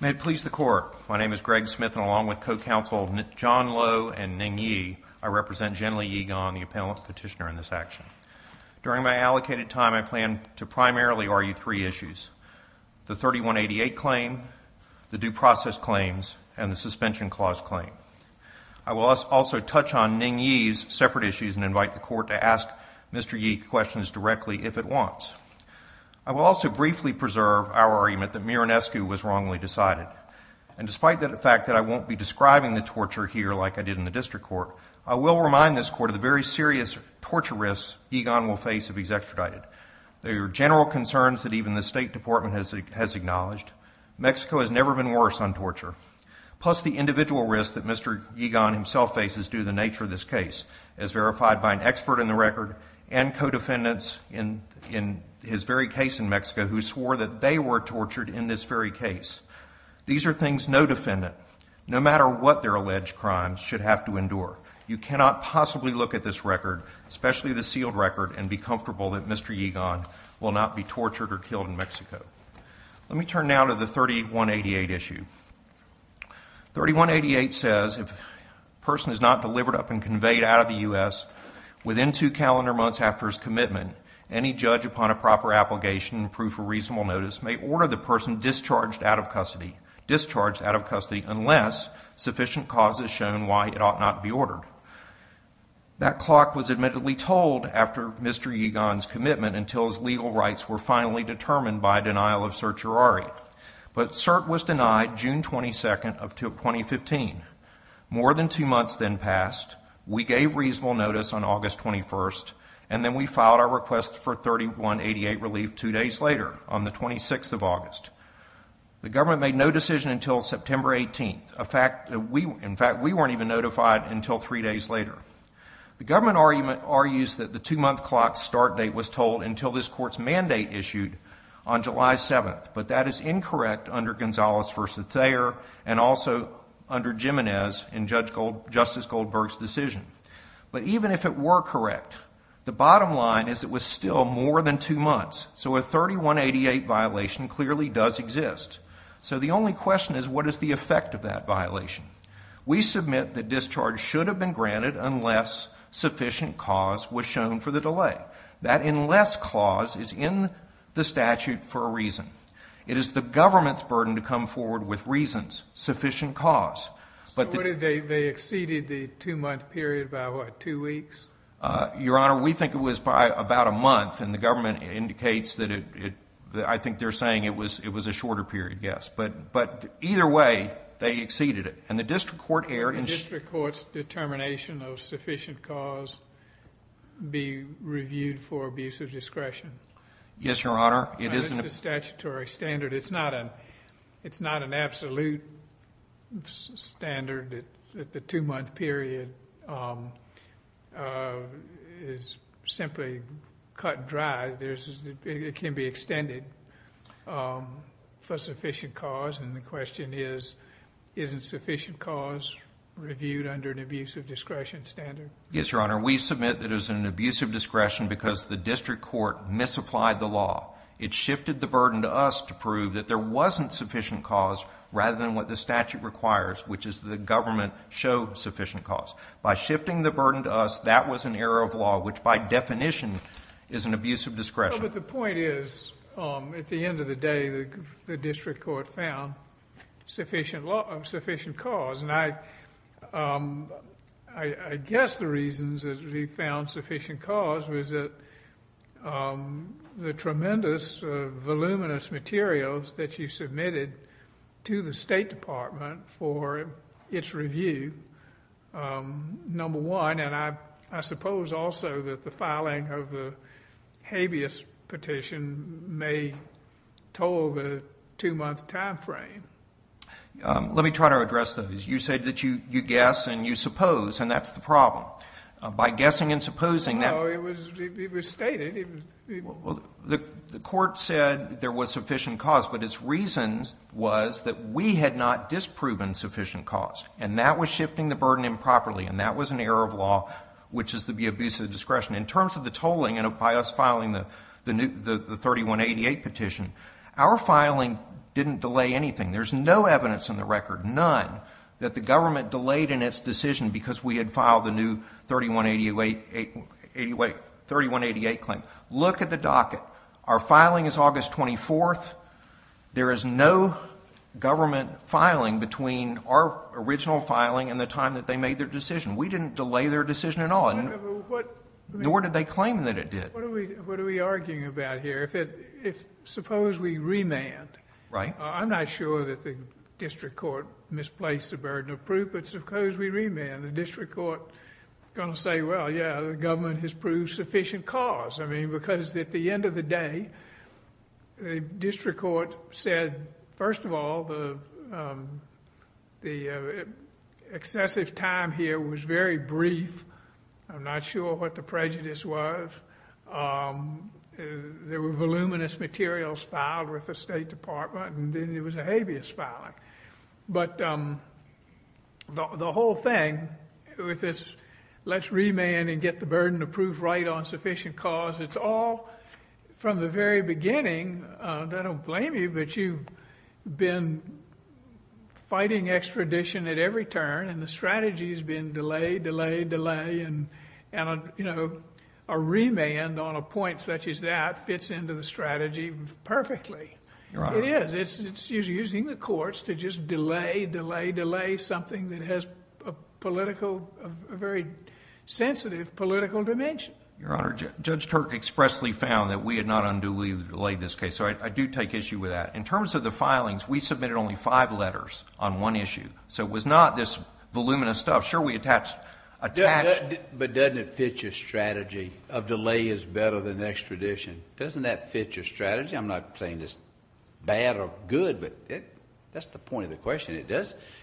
May it please the Court, my name is Greg Smith, and along with co-counsel John Lowe and Ning Yi, I represent Genli Ye Gon, the appellant petitioner in this action. During my allocated time, I plan to primarily argue three issues, the 3188 claim, the due process claims, and the suspension clause claim. I will also touch on Ning Yi's separate issues and invite the Court to ask Mr. Ye questions directly if it wants. I will also briefly preserve our argument that Miranescu was wrongly decided. And despite the fact that I won't be describing the torture here like I did in the District Court, I will remind this Court of the very serious torture risks Ye Gon will face if he's extradited. There are general concerns that even the State Department has acknowledged. Plus the individual risks that Mr. Ye Gon himself faces due to the nature of this case, as verified by an expert in the record and co-defendants in his very case in Mexico who swore that they were tortured in this very case. These are things no defendant, no matter what their alleged crime, should have to endure. You cannot possibly look at this record, especially the sealed record, and be comfortable that Mr. Ye Gon will not be tortured or killed in Mexico. Let me turn now to the 3188 issue. 3188 says, if a person is not delivered up and conveyed out of the U.S. within two calendar months after his commitment, any judge upon a proper application and proof of reasonable notice may order the person discharged out of custody unless sufficient cause is shown why it ought not be ordered. That clock was admittedly told after Mr. Ye Gon's commitment until his legal rights were finally determined by denial of certiorari. But cert was denied June 22nd of 2015. More than two months then passed. We gave reasonable notice on August 21st, and then we filed our request for 3188 relief two days later on the 26th of August. The government made no decision until September 18th. In fact, we weren't even notified until three days later. The government argues that the two-month clock start date was told until this court's mandate issued on July 7th. But that is incorrect under Gonzales v. Thayer and also under Jimenez in Justice Goldberg's decision. But even if it were correct, the bottom line is it was still more than two months. So a 3188 violation clearly does exist. So the only question is what is the effect of that violation? We submit that discharge should have been granted unless sufficient cause was shown for the delay. That unless clause is in the statute for a reason. It is the government's burden to come forward with reasons, sufficient cause. So they exceeded the two-month period by what, two weeks? Your Honor, we think it was by about a month. And the government indicates that it, I think they're saying it was a shorter period, yes. But either way, they exceeded it. And the district court erred in The district court's determination of sufficient cause be reviewed for abuse of discretion. Yes, Your Honor. It's a statutory standard. It's not an absolute standard that the two-month period is simply cut dry. It can be extended for sufficient cause. And the question is, isn't sufficient cause reviewed under an abuse of discretion standard? Yes, Your Honor. Your Honor, we submit that it was an abuse of discretion because the district court misapplied the law. It shifted the burden to us to prove that there wasn't sufficient cause rather than what the statute requires, which is the government showed sufficient cause. By shifting the burden to us, that was an error of law, which by definition is an abuse of discretion. But the point is, at the end of the day, the district court found sufficient cause. And I guess the reasons that we found sufficient cause was that the tremendous, voluminous materials that you submitted to the State Department for its review, number one, and I suppose also that the filing of the habeas petition may toll the two-month time frame. Let me try to address those. You said that you guess and you suppose, and that's the problem. By guessing and supposing that — No, it was stated. The court said there was sufficient cause, but its reasons was that we had not disproven sufficient cause, and that was shifting the burden improperly, and that was an error of law, which is the abuse of discretion. In terms of the tolling by us filing the 3188 petition, our filing didn't delay anything. There's no evidence in the record, none, that the government delayed in its decision because we had filed the new 3188 claim. Look at the docket. Our filing is August 24th. There is no government filing between our original filing and the time that they made their decision. We didn't delay their decision at all. Nor did they claim that it did. What are we arguing about here? Suppose we remand. Right. I'm not sure that the district court misplaced the burden of proof, but suppose we remand. The district court is going to say, well, yeah, the government has proved sufficient cause. I mean, because at the end of the day, the district court said, first of all, the excessive time here was very brief. I'm not sure what the prejudice was. There were voluminous materials filed with the State Department, and then there was a habeas filing. But the whole thing with this let's remand and get the burden of proof right on sufficient cause, it's all from the very beginning. I don't blame you, but you've been fighting extradition at every turn, and the strategy has been delay, delay, delay. And a remand on a point such as that fits into the strategy perfectly. It is. It's using the courts to just delay, delay, delay something that has a very sensitive political dimension. Your Honor, Judge Turk expressly found that we had not unduly delayed this case, so I do take issue with that. In terms of the filings, we submitted only five letters on one issue, so it was not this voluminous stuff. Sure, we attached... But doesn't it fit your strategy of delay is better than extradition? Doesn't that fit your strategy? I'm not saying it's bad or good, but that's the point of the question.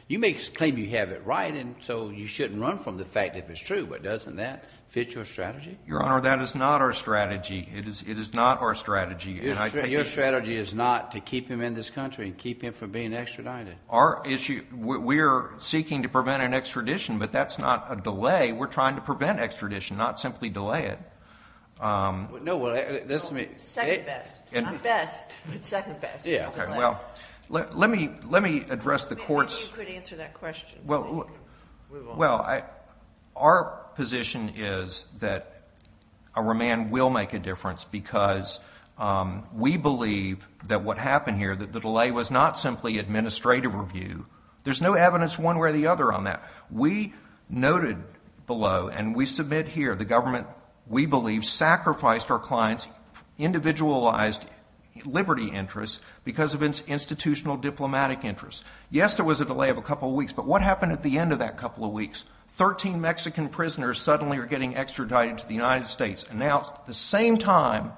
You may claim you have it right, and so you shouldn't run from the fact that it's true, but doesn't that fit your strategy? Your Honor, that is not our strategy. It is not our strategy. Your strategy is not to keep him in this country and keep him from being extradited? Our issue... we are seeking to prevent an extradition, but that's not a delay. We're trying to prevent extradition, not simply delay it. Second best. Not best, but second best. Let me address the court's... You could answer that question. Well, our position is that a remand will make a difference because we believe that what happened here, that the delay was not simply administrative review. There's no evidence one way or the other on that. We noted below, and we submit here, the government, we believe, sacrificed our client's individualized liberty interests because of its institutional diplomatic interests. Yes, there was a delay of a couple of weeks, but what happened at the end of that couple of weeks? Thirteen Mexican prisoners suddenly are getting extradited to the United States, announced the same time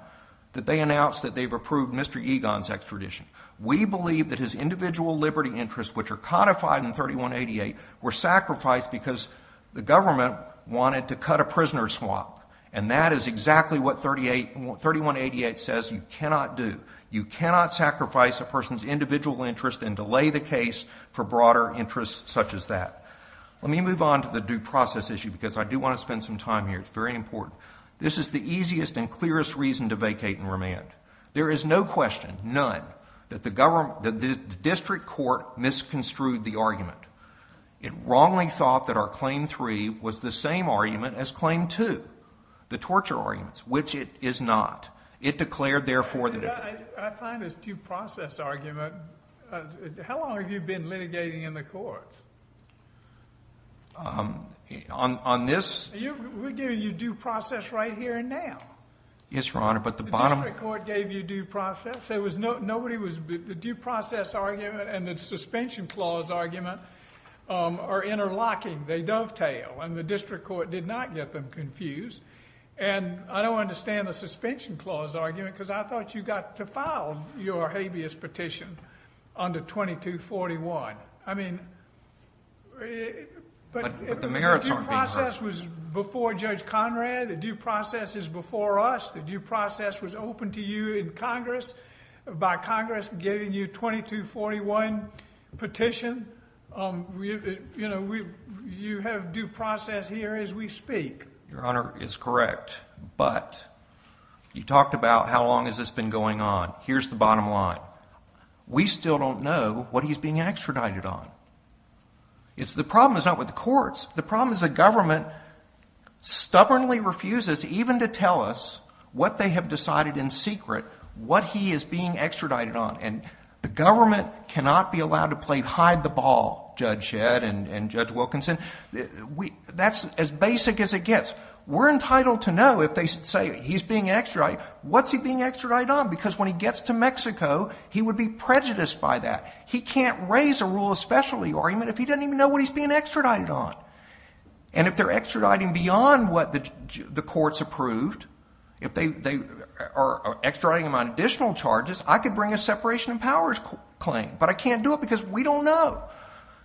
that they announced that they've approved Mr. Egon's extradition. We believe that his individual liberty interests, which are codified in 3188, were sacrificed because the government wanted to cut a prisoner's swap. And that is exactly what 3188 says you cannot do. You cannot sacrifice a person's individual interest and delay the case for broader interests such as that. Let me move on to the due process issue because I do want to spend some time here. It's very important. This is the easiest and clearest reason to vacate and remand. There is no question, none, that the district court misconstrued the argument. It wrongly thought that our Claim 3 was the same argument as Claim 2, the torture arguments, which it is not. It declared, therefore, that it— I find this due process argument—how long have you been litigating in the courts? On this— We're giving you due process right here and now. Yes, Your Honor, but the bottom— The district court gave you due process. There was no—nobody was—the due process argument and the suspension clause argument are interlocking. They dovetail, and the district court did not get them confused. And I don't understand the suspension clause argument because I thought you got to file your habeas petition under 2241. I mean— But the merits aren't being— The due process was before Judge Conrad. The due process is before us. The due process was open to you in Congress by Congress giving you 2241 petition. You have due process here as we speak. Your Honor is correct, but you talked about how long has this been going on. Here's the bottom line. We still don't know what he's being extradited on. The problem is not with the courts. The problem is the government stubbornly refuses even to tell us what they have decided in secret, what he is being extradited on. And the government cannot be allowed to play hide-the-ball, Judge Shedd and Judge Wilkinson. That's as basic as it gets. We're entitled to know if they say he's being extradited. What's he being extradited on? Because when he gets to Mexico, he would be prejudiced by that. He can't raise a rule of specialty argument if he doesn't even know what he's being extradited on. And if they're extraditing beyond what the courts approved, if they are extraditing him on additional charges, I could bring a separation of powers claim. But I can't do it because we don't know.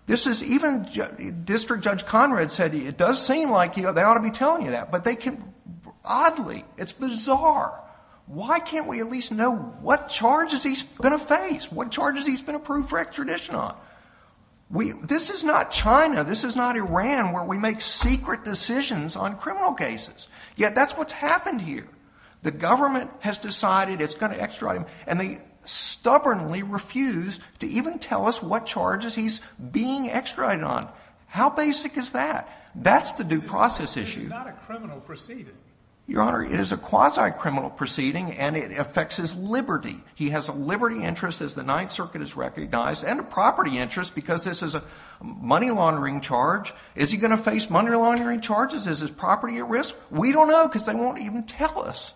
This is even—District Judge Conrad said it does seem like they ought to be telling you that. But they can—oddly, it's bizarre. Why can't we at least know what charges he's going to face, what charges he's been approved for extradition on? This is not China. This is not Iran where we make secret decisions on criminal cases. Yet that's what's happened here. The government has decided it's going to extradite him, and they stubbornly refuse to even tell us what charges he's being extradited on. How basic is that? That's the due process issue. It's not a criminal proceeding. Your Honor, it is a quasi-criminal proceeding, and it affects his liberty. He has a liberty interest, as the Ninth Circuit has recognized, and a property interest because this is a money laundering charge. Is he going to face money laundering charges? Is his property at risk? We don't know because they won't even tell us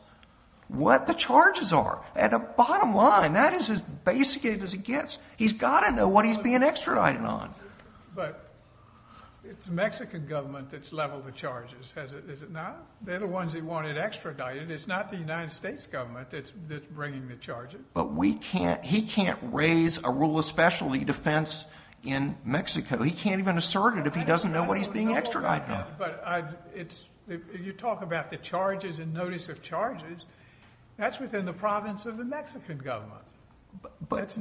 what the charges are. At the bottom line, that is as basic as it gets. He's got to know what he's being extradited on. But it's Mexican government that's leveled the charges, is it not? They're the ones that want it extradited. It's not the United States government that's bringing the charges. But he can't raise a rule of specialty defense in Mexico. He can't even assert it if he doesn't know what he's being extradited on. But you talk about the charges and notice of charges. That's within the province of the Mexican government. But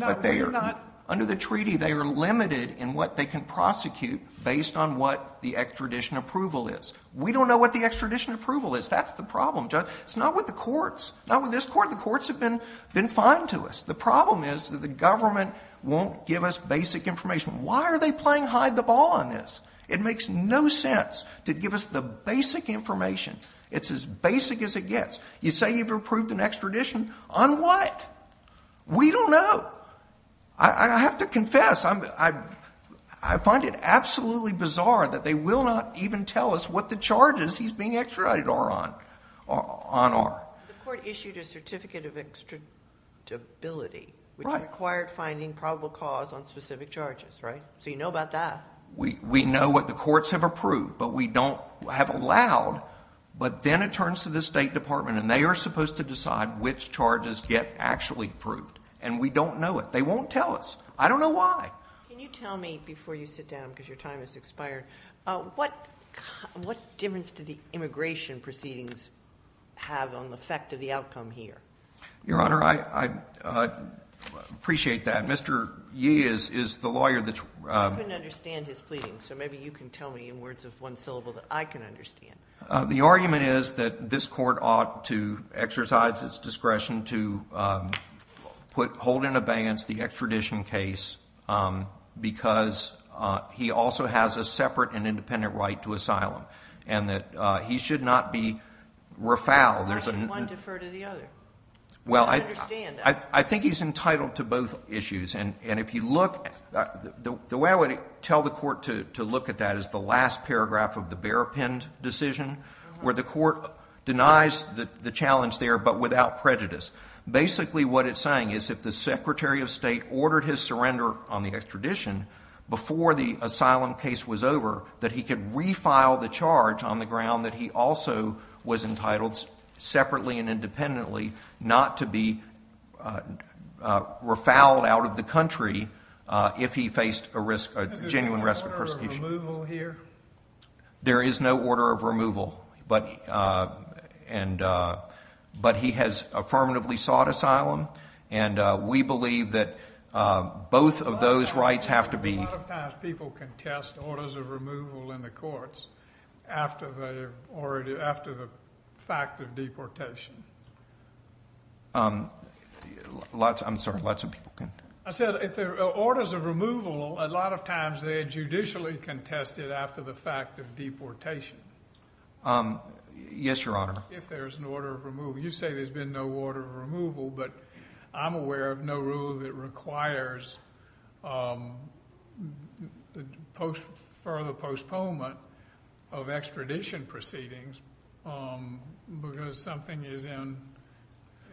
under the treaty, they are limited in what they can prosecute based on what the extradition approval is. We don't know what the extradition approval is. That's the problem, Judge. It's not with the courts. Not with this court. The courts have been fine to us. The problem is that the government won't give us basic information. Why are they playing hide the ball on this? It makes no sense to give us the basic information. It's as basic as it gets. You say you've approved an extradition. On what? We don't know. I have to confess. I find it absolutely bizarre that they will not even tell us what the charges he's being extradited are on are. The court issued a certificate of extradibility. Right. Which required finding probable cause on specific charges, right? So you know about that. We know what the courts have approved. But we don't have allowed. But then it turns to the State Department and they are supposed to decide which charges get actually approved. And we don't know it. They won't tell us. I don't know why. Can you tell me, before you sit down because your time has expired, what difference do the immigration proceedings have on the effect of the outcome here? Your Honor, I appreciate that. Mr. Yee is the lawyer that's… I couldn't understand his pleading. So maybe you can tell me in words of one syllable that I can understand. The argument is that this court ought to exercise its discretion to hold in abeyance the extradition case because he also has a separate and independent right to asylum. And that he should not be refouled. Why should one defer to the other? I don't understand that. I think he's entitled to both issues. And if you look, the way I would tell the court to look at that is the last paragraph of the bear-pinned decision where the court denies the challenge there but without prejudice. Basically what it's saying is if the Secretary of State ordered his surrender on the extradition before the asylum case was over, that he could refile the charge on the ground that he also was entitled separately and independently not to be refouled out of the country if he faced a risk, a genuine risk of persecution. Is there an order of removal here? There is no order of removal. But he has affirmatively sought asylum. And we believe that both of those rights have to be— A lot of times people contest orders of removal in the courts after the fact of deportation. I'm sorry, lots of people— I said if there are orders of removal, a lot of times they are judicially contested after the fact of deportation. Yes, Your Honor. If there's an order of removal. You say there's been no order of removal, but I'm aware of no rule that requires further postponement of extradition proceedings because something is in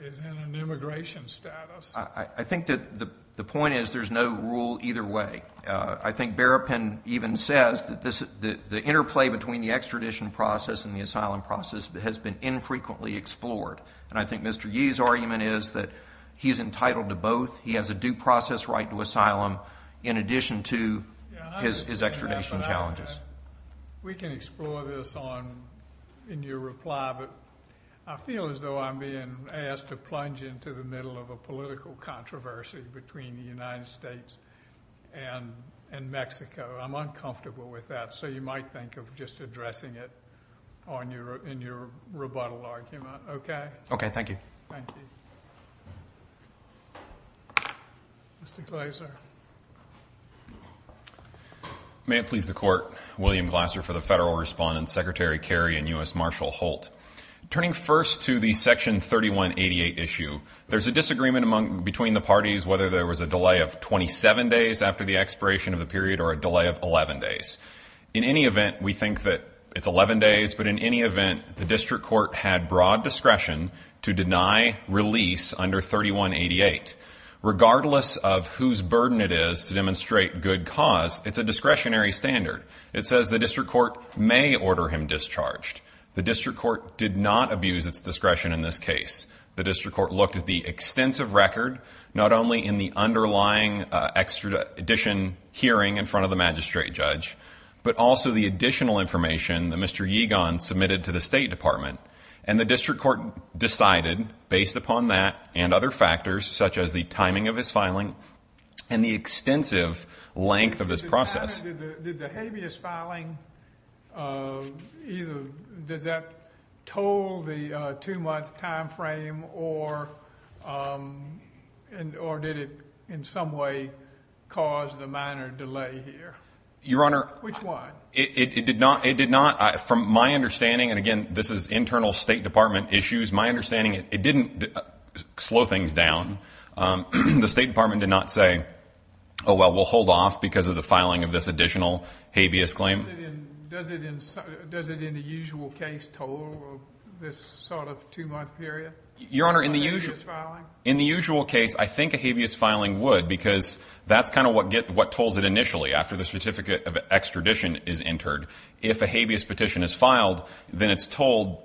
an immigration status. I think that the point is there's no rule either way. I think Berrapin even says that the interplay between the extradition process and the asylum process has been infrequently explored. And I think Mr. Yee's argument is that he's entitled to both. He has a due process right to asylum in addition to his extradition challenges. We can explore this in your reply, but I feel as though I'm being asked to plunge into the middle of a political controversy between the United States and Mexico. I'm uncomfortable with that, so you might think of just addressing it in your rebuttal argument. Okay? Okay, thank you. Thank you. Mr. Glaser. May it please the Court. William Glaser for the Federal Respondent, Secretary Kerry, and U.S. Marshal Holt. Turning first to the Section 3188 issue, there's a disagreement between the parties whether there was a delay of 27 days after the expiration of the period or a delay of 11 days. In any event, we think that it's 11 days, but in any event, the district court had broad discretion to deny release under 3188. Regardless of whose burden it is to demonstrate good cause, it's a discretionary standard. It says the district court may order him discharged. The district court did not abuse its discretion in this case. The district court looked at the extensive record, not only in the underlying extradition hearing in front of the magistrate judge, but also the additional information that Mr. Yeegan submitted to the State Department. And the district court decided, based upon that and other factors, such as the timing of his filing and the extensive length of his process. Did the habeas filing, does that toll the two-month time frame or did it in some way cause the minor delay here? Your Honor. Which one? It did not. It did not. From my understanding, and again, this is internal State Department issues. My understanding, it didn't slow things down. The State Department did not say, oh, well, we'll hold off because of the filing of this additional habeas claim. Does it in the usual case toll this sort of two-month period? Your Honor, in the usual case, I think a habeas filing would because that's kind of what tolls it initially. After the certificate of extradition is entered, if a habeas petition is filed, then it's tolled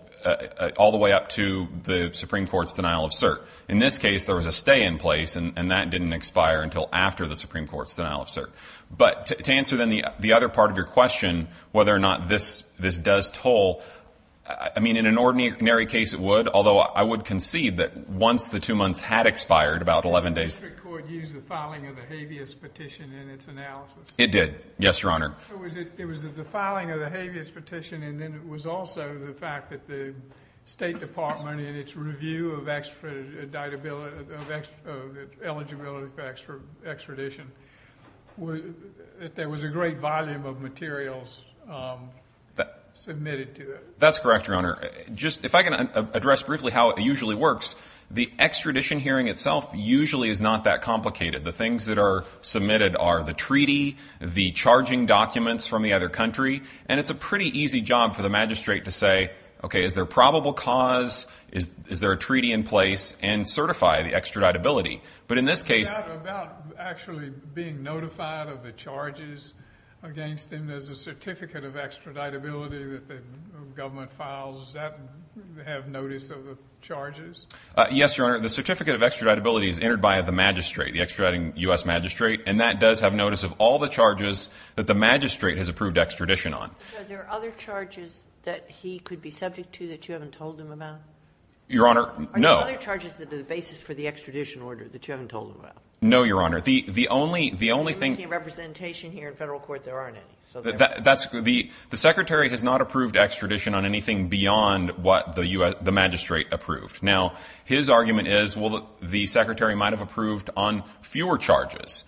all the way up to the Supreme Court's denial of cert. In this case, there was a stay in place, and that didn't expire until after the Supreme Court's denial of cert. But to answer then the other part of your question, whether or not this does toll, I mean, in an ordinary case, it would. Although I would concede that once the two months had expired, about 11 days. Did the district court use the filing of the habeas petition in its analysis? It did. Yes, Your Honor. It was the filing of the habeas petition, and then it was also the fact that the State Department, in its review of eligibility for extradition, that there was a great volume of materials submitted to it. That's correct, Your Honor. If I can address briefly how it usually works, the extradition hearing itself usually is not that complicated. The things that are submitted are the treaty, the charging documents from the other country, and it's a pretty easy job for the magistrate to say, okay, is there a probable cause? Is there a treaty in place? And certify the extraditability. Is it about actually being notified of the charges against him? There's a certificate of extraditability that the government files. Does that have notice of the charges? Yes, Your Honor. The certificate of extraditability is entered by the magistrate, the extraditing U.S. magistrate, and that does have notice of all the charges that the magistrate has approved extradition on. Are there other charges that he could be subject to that you haven't told him about? Your Honor, no. Are there other charges that are the basis for the extradition order that you haven't told him about? No, Your Honor. The only thing— You're making a representation here in federal court. There aren't any. The secretary has not approved extradition on anything beyond what the magistrate approved. Now, his argument is, well, the secretary might have approved on fewer charges,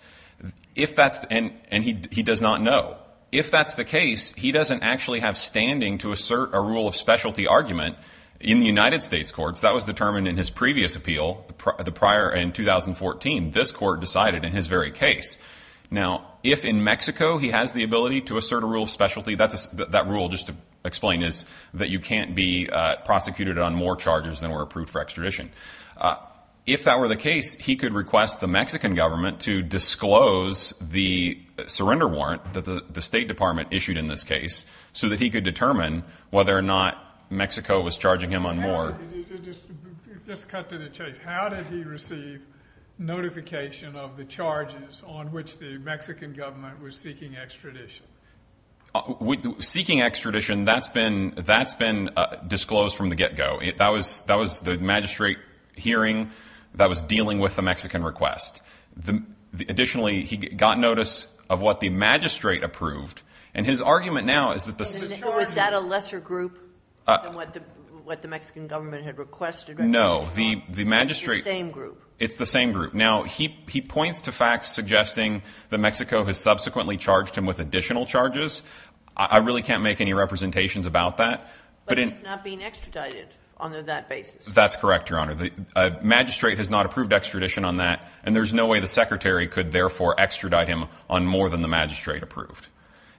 and he does not know. If that's the case, he doesn't actually have standing to assert a rule of specialty argument in the United States courts. That was determined in his previous appeal in 2014. This court decided in his very case. Now, if in Mexico he has the ability to assert a rule of specialty, that rule, just to explain, is that you can't be prosecuted on more charges than were approved for extradition. If that were the case, he could request the Mexican government to disclose the surrender warrant that the State Department issued in this case so that he could determine whether or not Mexico was charging him on more. Just cut to the chase. How did he receive notification of the charges on which the Mexican government was seeking extradition? Seeking extradition, that's been disclosed from the get-go. That was the magistrate hearing that was dealing with the Mexican request. Additionally, he got notice of what the magistrate approved, and his argument now is that the— Was that a lesser group than what the Mexican government had requested? No. The magistrate— It's the same group. It's the same group. Now, he points to facts suggesting that Mexico has subsequently charged him with additional charges. I really can't make any representations about that. But it's not being extradited on that basis. That's correct, Your Honor. The magistrate has not approved extradition on that, and there's no way the secretary could therefore extradite him on more than the magistrate approved.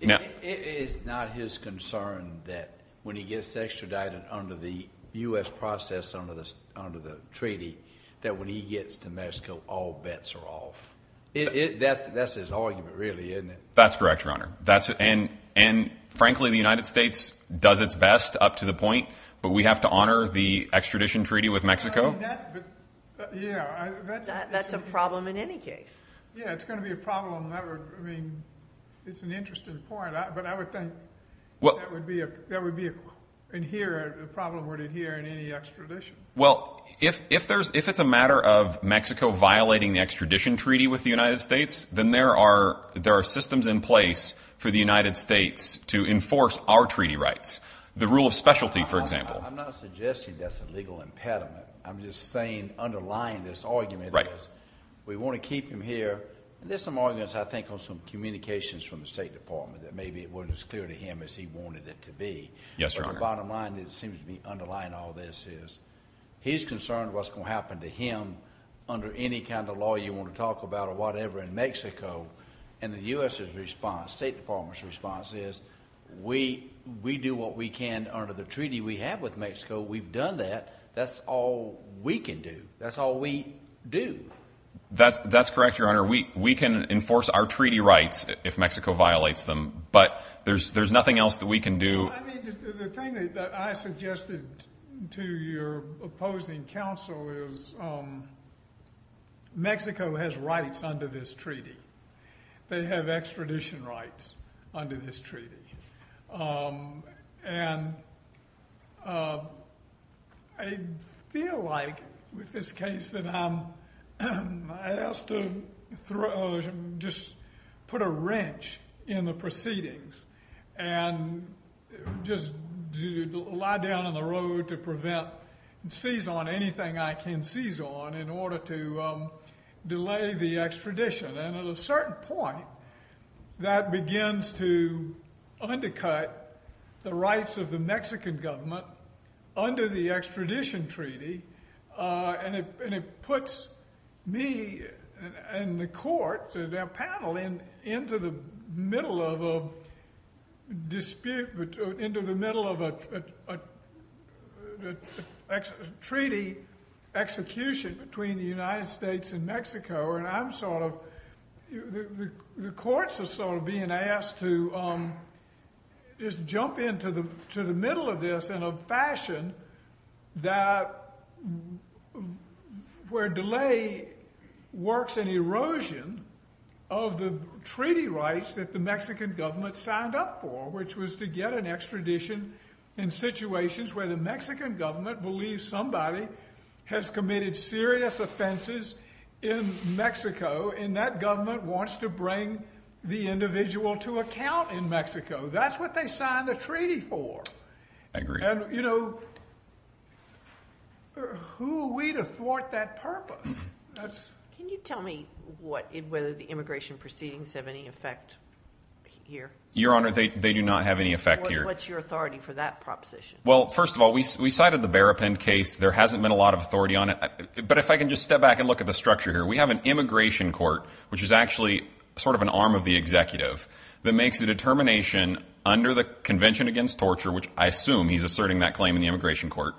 It's not his concern that when he gets extradited under the U.S. process, under the treaty, that when he gets to Mexico, all bets are off. That's his argument, really, isn't it? That's correct, Your Honor. And, frankly, the United States does its best up to the point, but we have to honor the extradition treaty with Mexico? That's a problem in any case. Yeah, it's going to be a problem. I mean, it's an interesting point, but I would think that would be—in here, the problem would adhere in any extradition. Well, if it's a matter of Mexico violating the extradition treaty with the United States, then there are systems in place for the United States to enforce our treaty rights. The rule of specialty, for example. I'm not suggesting that's a legal impediment. I'm just saying, underlying this argument is we want to keep him here. There's some arguments, I think, on some communications from the State Department that maybe it wasn't as clear to him as he wanted it to be. Yes, Your Honor. But the bottom line that seems to be underlying all this is he's concerned what's going to happen to him under any kind of law you want to talk about or whatever in Mexico. And the U.S.'s response, State Department's response, is we do what we can under the treaty we have with Mexico. We've done that. That's all we can do. That's all we do. That's correct, Your Honor. We can enforce our treaty rights if Mexico violates them, but there's nothing else that we can do. The thing that I suggested to your opposing counsel is Mexico has rights under this treaty. They have extradition rights under this treaty. And I feel like, with this case, that I'm asked to just put a wrench in the proceedings and just lie down on the road to prevent and seize on anything I can seize on in order to delay the extradition. And at a certain point, that begins to undercut the rights of the Mexican government under the extradition treaty. And it puts me and the court, their panel, into the middle of a dispute, into the middle of a treaty execution between the United States and Mexico. And I'm sort of, the courts are sort of being asked to just jump into the middle of this in a fashion that, where delay works in erosion of the treaty rights that the Mexican government signed up for, which was to get an extradition in situations where the Mexican government believes somebody has committed serious offenses in Mexico, and that government wants to bring the individual to account in Mexico. That's what they signed the treaty for. I agree. And, you know, who are we to thwart that purpose? Can you tell me whether the immigration proceedings have any effect here? Your Honor, they do not have any effect here. What's your authority for that proposition? Well, first of all, we cited the Berrapin case. There hasn't been a lot of authority on it. But if I can just step back and look at the structure here. We have an immigration court, which is actually sort of an arm of the executive, that makes a determination under the Convention Against Torture, which I assume he's asserting that claim in the immigration court,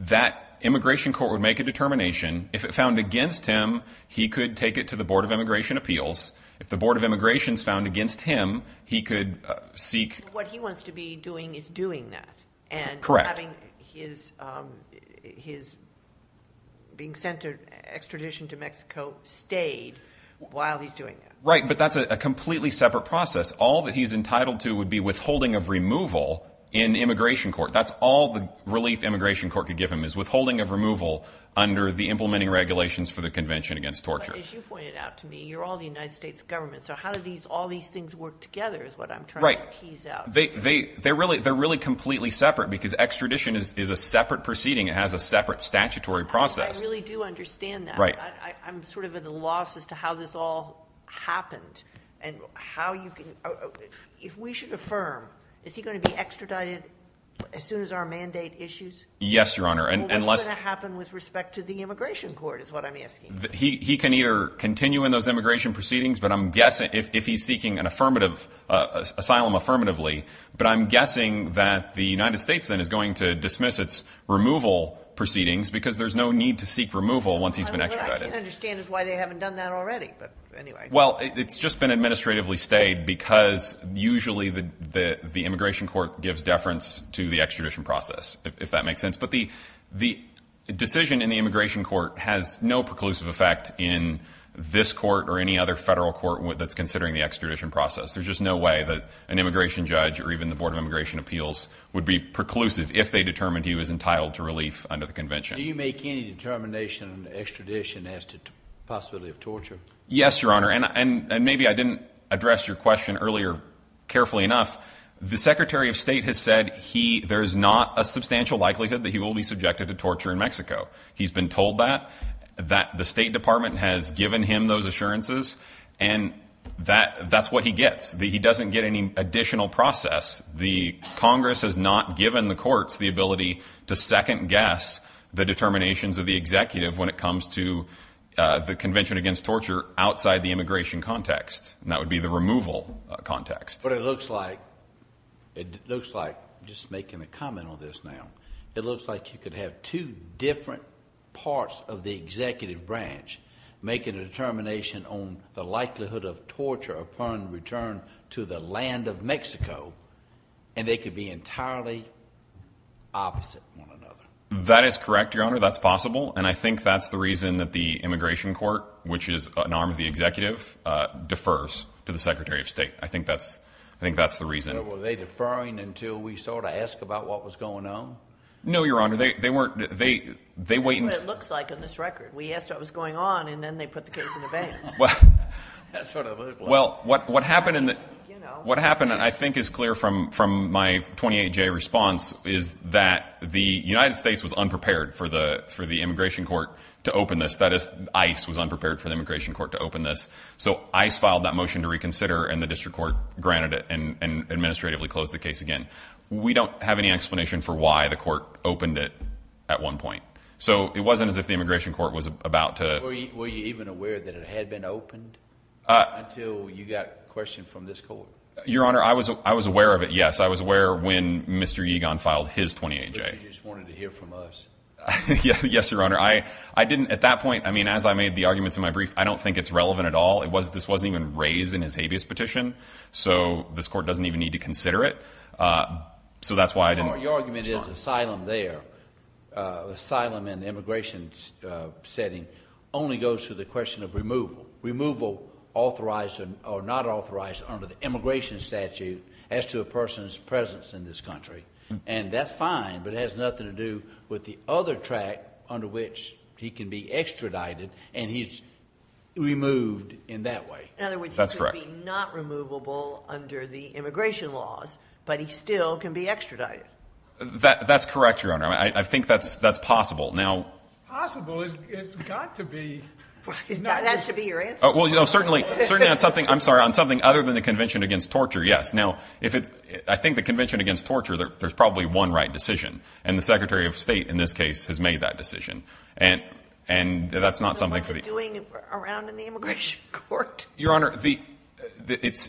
that immigration court would make a determination. If it found against him, he could take it to the Board of Immigration Appeals. If the Board of Immigration is found against him, he could seek. What he wants to be doing is doing that. Correct. And having his being sent to extradition to Mexico stayed while he's doing that. Right, but that's a completely separate process. All that he's entitled to would be withholding of removal in immigration court. That's all the relief immigration court could give him is withholding of removal under the implementing regulations for the Convention Against Torture. As you pointed out to me, you're all the United States government. So how do all these things work together is what I'm trying to tease out. They're really completely separate because extradition is a separate proceeding. It has a separate statutory process. I really do understand that. I'm sort of at a loss as to how this all happened. If we should affirm, is he going to be extradited as soon as our mandate issues? Yes, Your Honor. What's going to happen with respect to the immigration court is what I'm asking. He can either continue in those immigration proceedings if he's seeking an asylum affirmatively. But I'm guessing that the United States then is going to dismiss its removal proceedings because there's no need to seek removal once he's been extradited. What I can't understand is why they haven't done that already. Well, it's just been administratively stayed because usually the immigration court gives deference to the extradition process, if that makes sense. But the decision in the immigration court has no preclusive effect in this court or any other federal court that's considering the extradition process. There's just no way that an immigration judge or even the Board of Immigration Appeals would be preclusive if they determined he was entitled to relief under the convention. Do you make any determination on extradition as to the possibility of torture? Yes, Your Honor. And maybe I didn't address your question earlier carefully enough. The Secretary of State has said there is not a substantial likelihood that he will be subjected to torture in Mexico. He's been told that, that the State Department has given him those assurances, and that's what he gets. He doesn't get any additional process. The Congress has not given the courts the ability to second-guess the determinations of the executive when it comes to the Convention Against Torture outside the immigration context. And that would be the removal context. But it looks like, just making a comment on this now, it looks like you could have two different parts of the executive branch making a determination on the likelihood of torture upon return to the land of Mexico, and they could be entirely opposite one another. That is correct, Your Honor. That's possible. And I think that's the reason that the immigration court, which is an arm of the executive, defers to the Secretary of State. I think that's the reason. Were they deferring until we sort of asked about what was going on? No, Your Honor. They weren't. That's what it looks like on this record. We asked what was going on, and then they put the case in the bank. Well, what happened, I think, is clear from my 28-J response, is that the United States was unprepared for the immigration court to open this. That is, ICE was unprepared for the immigration court to open this. So, ICE filed that motion to reconsider, and the district court granted it and administratively closed the case again. We don't have any explanation for why the court opened it at one point. So, it wasn't as if the immigration court was about to— Were you even aware that it had been opened until you got a question from this court? Your Honor, I was aware of it, yes. I was aware when Mr. Egon filed his 28-J. But you just wanted to hear from us. Yes, Your Honor. At that point, as I made the arguments in my brief, I don't think it's relevant at all. This wasn't even raised in his habeas petition, so this court doesn't even need to consider it. So, that's why I didn't respond. Your argument is asylum there, asylum in the immigration setting, only goes to the question of removal. Removal authorized or not authorized under the immigration statute as to a person's presence in this country. And that's fine, but it has nothing to do with the other track under which he can be extradited and he's removed in that way. In other words, he could be not removable under the immigration laws, but he still can be extradited. That's correct, Your Honor. I think that's possible. Now— Possible? It's got to be. That has to be your answer. Well, certainly on something other than the Convention Against Torture, yes. Now, I think the Convention Against Torture, there's probably one right decision. And the Secretary of State, in this case, has made that decision. And that's not something for the— What was it doing around in the immigration court? Your Honor, it's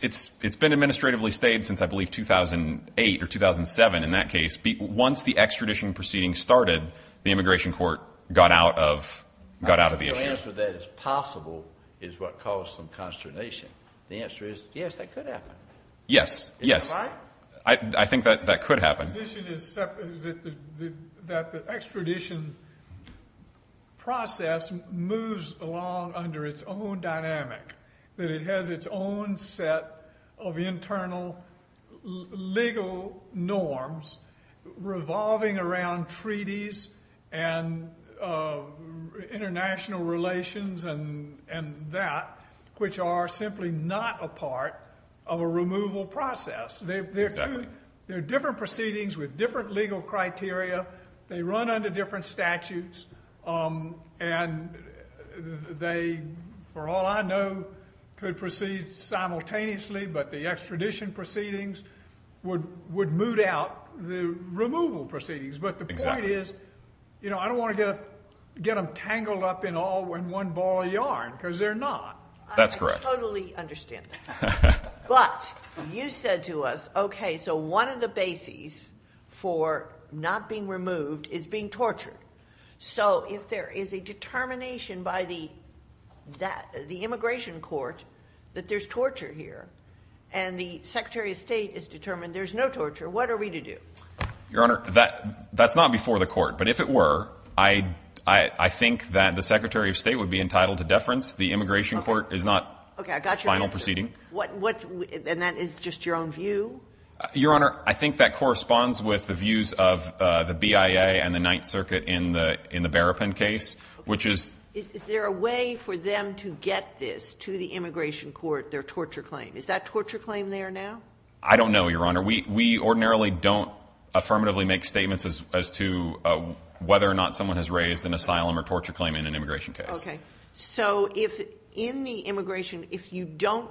been administratively stayed since, I believe, 2008 or 2007 in that case. Once the extradition proceeding started, the immigration court got out of the issue. Your answer that it's possible is what caused some consternation. The answer is, yes, that could happen. Yes, yes. Is that right? I think that could happen. The position is that the extradition process moves along under its own dynamic, that it has its own set of internal legal norms revolving around treaties and international relations and that, which are simply not a part of a removal process. Exactly. There are different proceedings with different legal criteria. They run under different statutes. And they, for all I know, could proceed simultaneously, but the extradition proceedings would moot out the removal proceedings. Exactly. But the point is, you know, I don't want to get them tangled up in one ball of yarn because they're not. That's correct. I totally understand that. But you said to us, okay, so one of the bases for not being removed is being tortured. So if there is a determination by the immigration court that there's torture here and the Secretary of State is determined there's no torture, what are we to do? Your Honor, that's not before the court. But if it were, I think that the Secretary of State would be entitled to deference. The immigration court is not the final proceeding. Okay. I got your answer. And that is just your own view? Your Honor, I think that corresponds with the views of the BIA and the Ninth Circuit in the Berrapin case, which is... Is there a way for them to get this to the immigration court, their torture claim? Is that torture claim there now? I don't know, Your Honor. We ordinarily don't affirmatively make statements as to whether or not someone has raised an asylum or torture claim in an immigration case. Okay. So if in the immigration, if you don't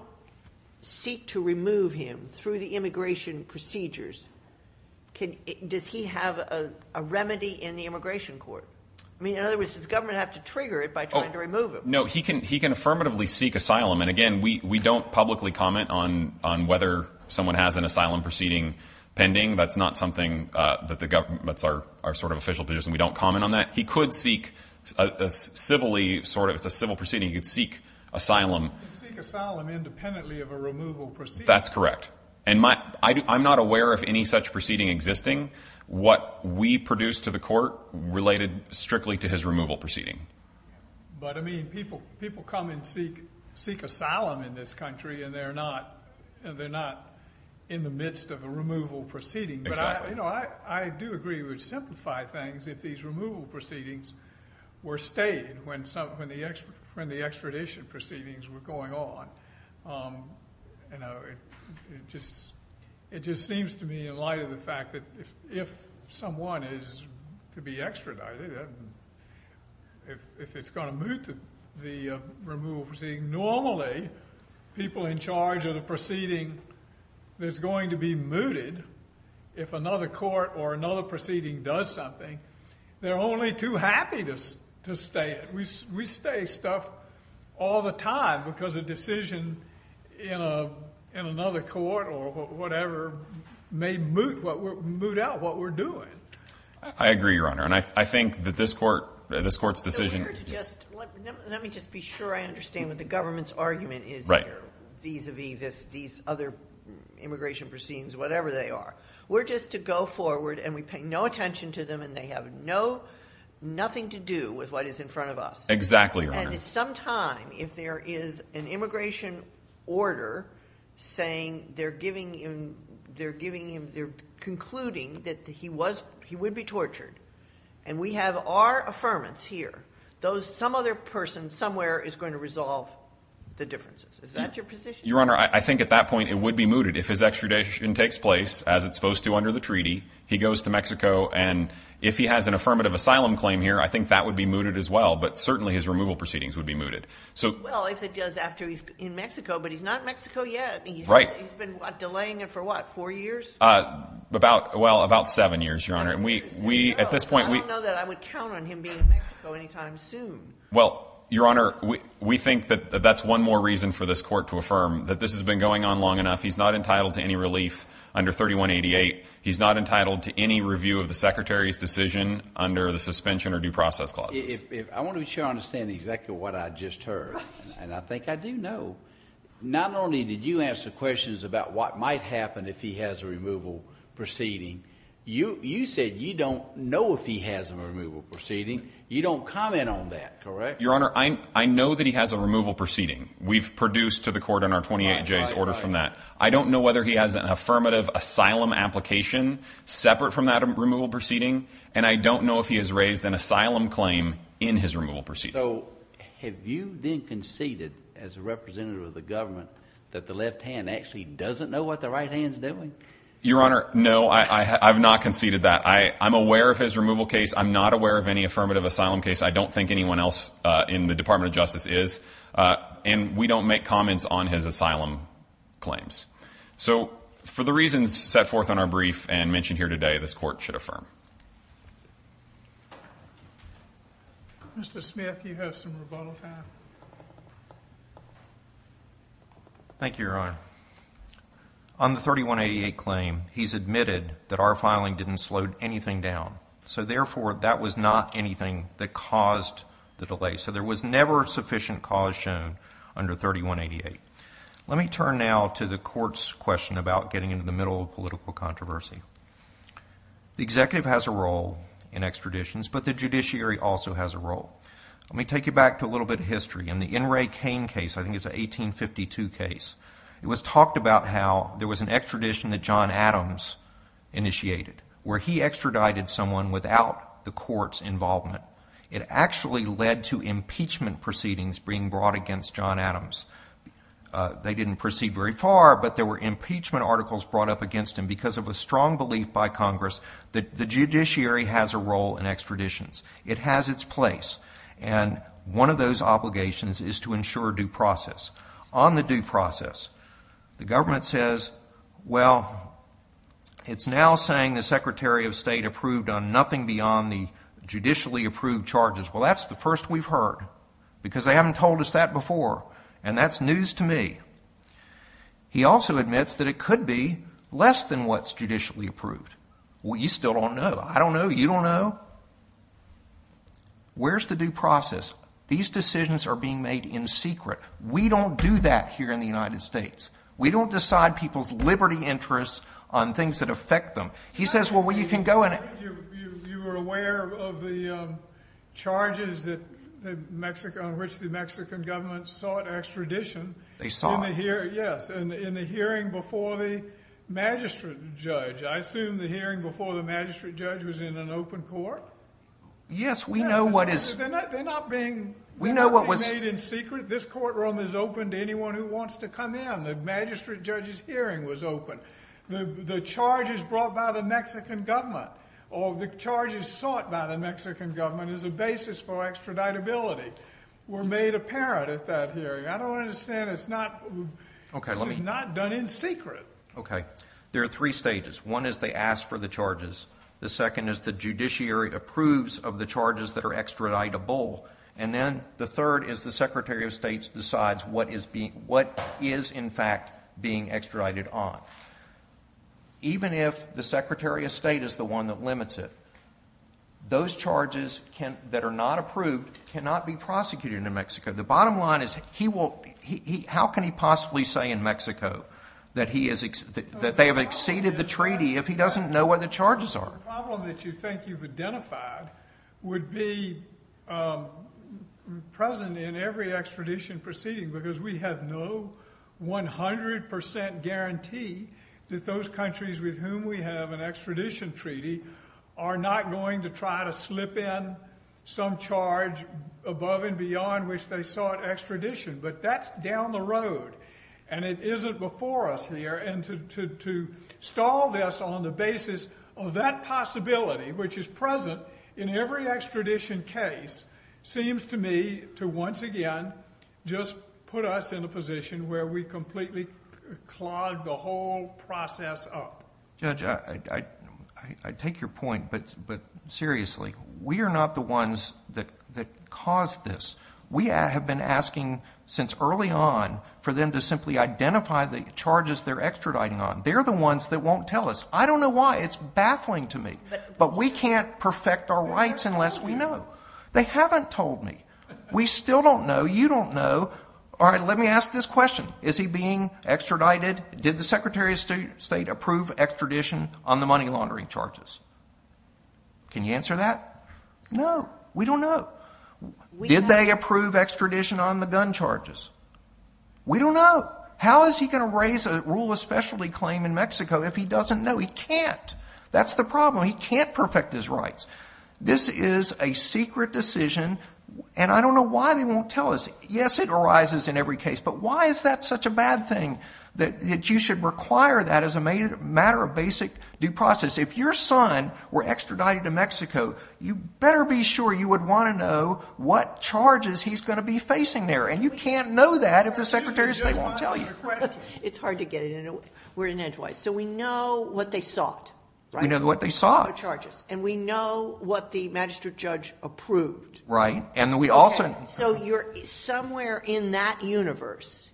seek to remove him through the immigration procedures, does he have a remedy in the immigration court? I mean, in other words, does government have to trigger it by trying to remove him? No. He can affirmatively seek asylum. And, again, we don't publicly comment on whether someone has an asylum proceeding pending. That's not something that the government... That's our sort of official position. We don't comment on that. He could seek a civilly sort of... It's a civil proceeding. He could seek asylum. He could seek asylum independently of a removal proceeding. That's correct. And I'm not aware of any such proceeding existing. What we produce to the court related strictly to his removal proceeding. But, I mean, people come and seek asylum in this country and they're not in the midst of a removal proceeding. Exactly. But, you know, I do agree with simplified things if these removal proceedings were stayed when the extradition proceedings were going on. You know, it just seems to me in light of the fact that if someone is to be extradited, if it's going to move to the removal proceeding, normally people in charge of the proceeding that's going to be mooted if another court or another proceeding does something, they're only too happy to stay. We stay stuff all the time because a decision in another court or whatever may moot out what we're doing. I agree, Your Honor. And I think that this court's decision... Let me just be sure I understand what the government's argument is here. Right. Vis-a-vis these other immigration proceedings, whatever they are. We're just to go forward and we pay no attention to them and they have nothing to do with what is in front of us. Exactly, Your Honor. And at some time, if there is an immigration order saying they're concluding that he would be tortured, and we have our affirmance here, some other person somewhere is going to resolve the differences. Is that your position? Your Honor, I think at that point it would be mooted. If his extradition takes place, as it's supposed to under the treaty, he goes to Mexico, and if he has an affirmative asylum claim here, I think that would be mooted as well. But certainly his removal proceedings would be mooted. Well, if it does after he's in Mexico, but he's not in Mexico yet. He's been delaying it for what, four years? Well, about seven years, Your Honor. I don't know that I would count on him being in Mexico any time soon. Well, Your Honor, we think that that's one more reason for this court to affirm that this has been going on long enough. He's not entitled to any relief under 3188. He's not entitled to any review of the Secretary's decision under the suspension or due process clauses. I want to be sure I understand exactly what I just heard, and I think I do know. Not only did you answer questions about what might happen if he has a removal proceeding, you said you don't know if he has a removal proceeding. You don't comment on that, correct? Your Honor, I know that he has a removal proceeding. We've produced to the court in our 28Js orders from that. I don't know whether he has an affirmative asylum application separate from that removal proceeding, and I don't know if he has raised an asylum claim in his removal proceeding. So have you then conceded as a representative of the government that the left hand actually doesn't know what the right hand is doing? Your Honor, no, I have not conceded that. I'm aware of his removal case. I'm not aware of any affirmative asylum case. I don't think anyone else in the Department of Justice is, and we don't make comments on his asylum claims. So for the reasons set forth on our brief and mentioned here today, this court should affirm. Mr. Smith, you have some rebuttal time. Thank you, Your Honor. Your Honor, on the 3188 claim, he's admitted that our filing didn't slow anything down. So therefore, that was not anything that caused the delay. So there was never sufficient cause shown under 3188. Let me turn now to the court's question about getting into the middle of political controversy. The executive has a role in extraditions, but the judiciary also has a role. I think it's an 1852 case. It was talked about how there was an extradition that John Adams initiated where he extradited someone without the court's involvement. It actually led to impeachment proceedings being brought against John Adams. They didn't proceed very far, but there were impeachment articles brought up against him because of a strong belief by Congress that the judiciary has a role in extraditions. It has its place. And one of those obligations is to ensure due process. On the due process, the government says, well, it's now saying the Secretary of State approved on nothing beyond the judicially approved charges. Well, that's the first we've heard because they haven't told us that before. And that's news to me. He also admits that it could be less than what's judicially approved. Well, you still don't know. I don't know. You don't know. Where's the due process? These decisions are being made in secret. We don't do that here in the United States. We don't decide people's liberty interests on things that affect them. He says, well, you can go and— You were aware of the charges on which the Mexican government sought extradition. They saw it. Yes, in the hearing before the magistrate judge. I assume the hearing before the magistrate judge was in an open court. Yes, we know what is— They're not being made in secret. This courtroom is open to anyone who wants to come in. The magistrate judge's hearing was open. The charges brought by the Mexican government or the charges sought by the Mexican government as a basis for extraditability were made apparent at that hearing. I don't understand. This is not done in secret. Okay. There are three stages. One is they ask for the charges. The second is the judiciary approves of the charges that are extraditable. And then the third is the Secretary of State decides what is, in fact, being extradited on. Even if the Secretary of State is the one that limits it, those charges that are not approved cannot be prosecuted in New Mexico. The bottom line is how can he possibly say in Mexico that they have exceeded the treaty if he doesn't know where the charges are? The problem that you think you've identified would be present in every extradition proceeding because we have no 100 percent guarantee that those countries with whom we have an extradition treaty are not going to try to slip in some charge above and beyond which they sought extradition. But that's down the road, and it isn't before us here. And to stall this on the basis of that possibility, which is present in every extradition case, seems to me to once again just put us in a position where we completely clog the whole process up. Judge, I take your point, but seriously, we are not the ones that caused this. We have been asking since early on for them to simply identify the charges they're extraditing on. They're the ones that won't tell us. I don't know why. It's baffling to me. But we can't perfect our rights unless we know. They haven't told me. We still don't know. You don't know. All right, let me ask this question. Is he being extradited? Did the Secretary of State approve extradition on the money laundering charges? Can you answer that? No. We don't know. Did they approve extradition on the gun charges? We don't know. How is he going to raise a rule of specialty claim in Mexico if he doesn't know? He can't. That's the problem. He can't perfect his rights. This is a secret decision, and I don't know why they won't tell us. Yes, it arises in every case, but why is that such a bad thing that you should require that as a matter of basic due process? If your son were extradited to Mexico, you better be sure you would want to know what charges he's going to be facing there. And you can't know that if the Secretary of State won't tell you. It's hard to get it in a way. We're an edgewise. So we know what they sought, right? We know what they sought. And we know what the magistrate judge approved. Right. So somewhere in that universe,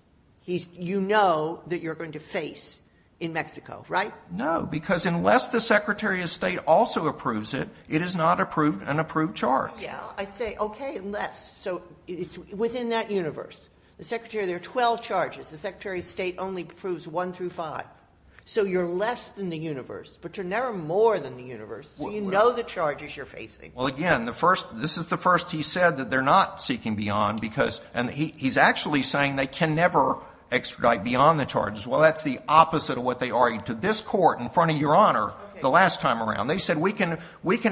you know that you're going to face in Mexico, right? No, because unless the Secretary of State also approves it, it is not an approved charge. I say, okay, unless. So it's within that universe. The Secretary of State, there are 12 charges. The Secretary of State only approves one through five. So you're less than the universe, but you're never more than the universe. So you know the charges you're facing. Well, again, this is the first he said that they're not seeking beyond because he's actually saying they can never extradite beyond the charges. Well, that's the opposite of what they argued to this court in front of Your Honor the last time around. They said we can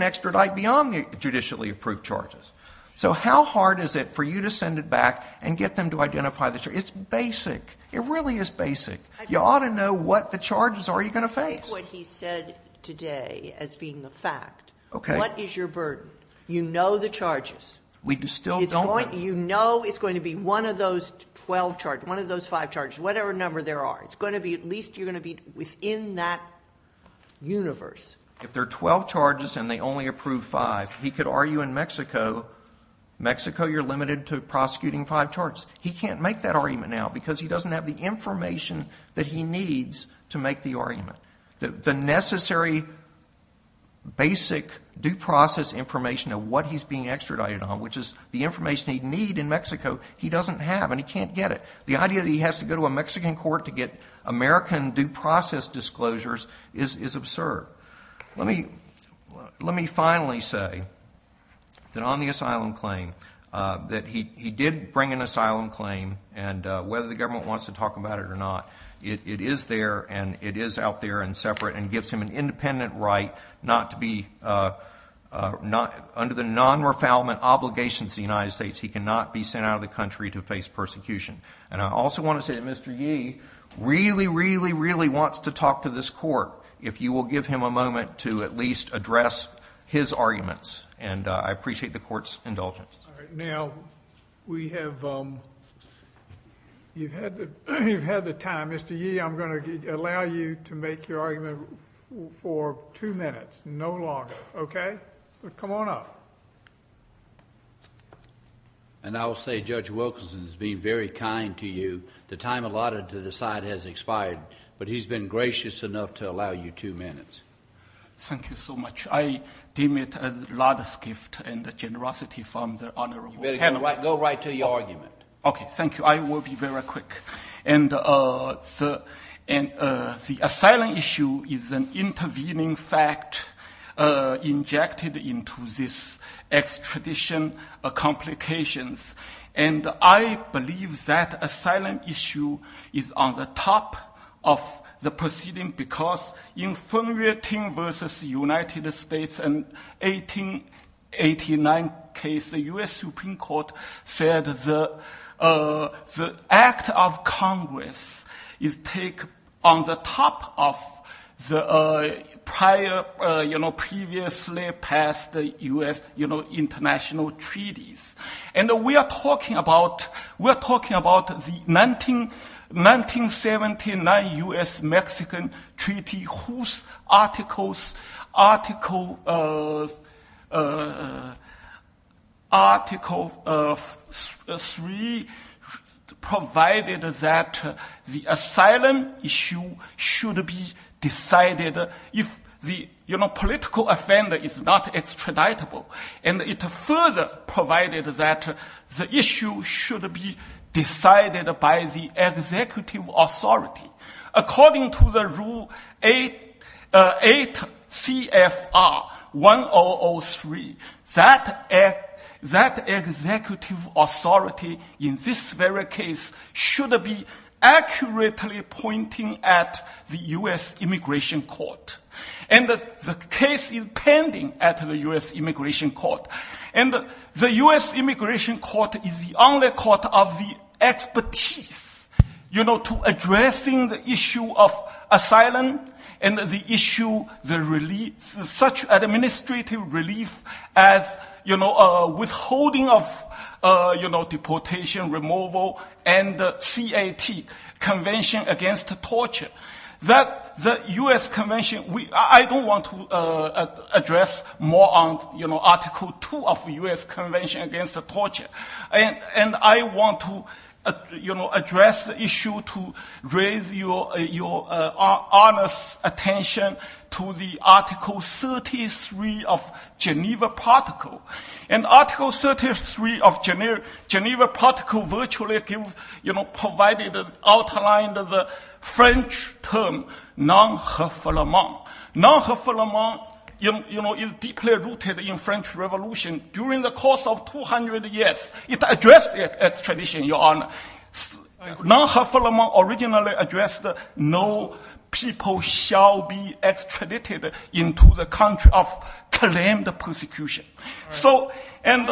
extradite beyond the judicially approved charges. So how hard is it for you to send it back and get them to identify the charges? It's basic. It really is basic. You ought to know what the charges are you going to face. Take what he said today as being a fact. Okay. What is your burden? You know the charges. We still don't. You know it's going to be one of those 12 charges, one of those five charges, whatever number there are. It's going to be at least you're going to be within that universe. If there are 12 charges and they only approve five, he could argue in Mexico, Mexico you're limited to prosecuting five charges. He can't make that argument now because he doesn't have the information that he needs to make the argument. The necessary basic due process information of what he's being extradited on, which is the information he'd need in Mexico, he doesn't have and he can't get it. The idea that he has to go to a Mexican court to get American due process disclosures is absurd. Let me finally say that on the asylum claim that he did bring an asylum claim and whether the government wants to talk about it or not, it is there and it is out there and separate and gives him an independent right not to be under the non-refoulement obligations of the United States. He cannot be sent out of the country to face persecution. And I also want to say that Mr. Yee really, really, really wants to talk to this court if you will give him a moment to at least address his arguments. And I appreciate the court's indulgence. All right. Now we have—you've had the time. Mr. Yee, I'm going to allow you to make your argument for two minutes, no longer. Okay? Come on up. And I will say Judge Wilkinson has been very kind to you. The time allotted to the side has expired, but he's been gracious enough to allow you two minutes. Thank you so much. I deem it a lot of gift and generosity from the honorable panel. Go right to your argument. Okay. Thank you. I will be very quick. And the asylum issue is an intervening fact injected into this extradition complications, and I believe that asylum issue is on the top of the proceeding because in Fenway Ting versus the United States in 1889 case, the U.S. Supreme Court said the act of Congress is take on the top of the prior, previously passed U.S. international treaties. And we are talking about the 1979 U.S.-Mexican Treaty, whose Article 3 provided that the asylum issue should be decided if the political offender is not extraditable. And it further provided that the issue should be decided by the executive authority. According to the Rule 8 CFR 1003, that executive authority in this very case should be accurately pointing at the U.S. Immigration Court. And the case is pending at the U.S. Immigration Court. And the U.S. Immigration Court is the only court of the expertise, you know, to addressing the issue of asylum and the issue such administrative relief as, you know, withholding of deportation, removal, and CAT, Convention Against Torture, that the U.S. Convention, I don't want to address more on, you know, Article 2 of U.S. Convention Against Torture. And I want to, you know, address the issue to raise your honest attention to the Article 33 of Geneva Protocol. And Article 33 of Geneva Protocol virtually, you know, provided, outlined the French term non-referrament. Non-referrament, you know, is deeply rooted in French Revolution. During the course of 200 years, it addressed extradition, Your Honor. Non-referrament originally addressed no people shall be extradited into the country of claimed persecution. So, and...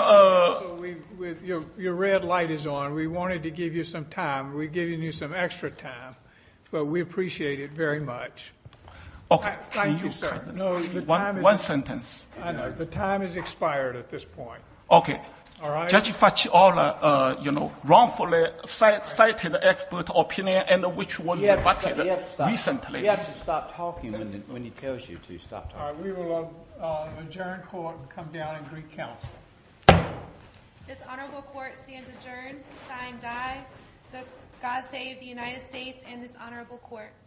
Your red light is on. We wanted to give you some time. We're giving you some extra time, but we appreciate it very much. Okay. Thank you, sir. One sentence. The time has expired at this point. Okay. All right. Judge Facciola, you know, wrongfully cited expert opinion and which was rebutted recently. You have to stop talking when he tells you to stop talking. All right. We will adjourn court and come down and recounsel. This honorable court stands adjourned. Signed by God Save the United States and this honorable court.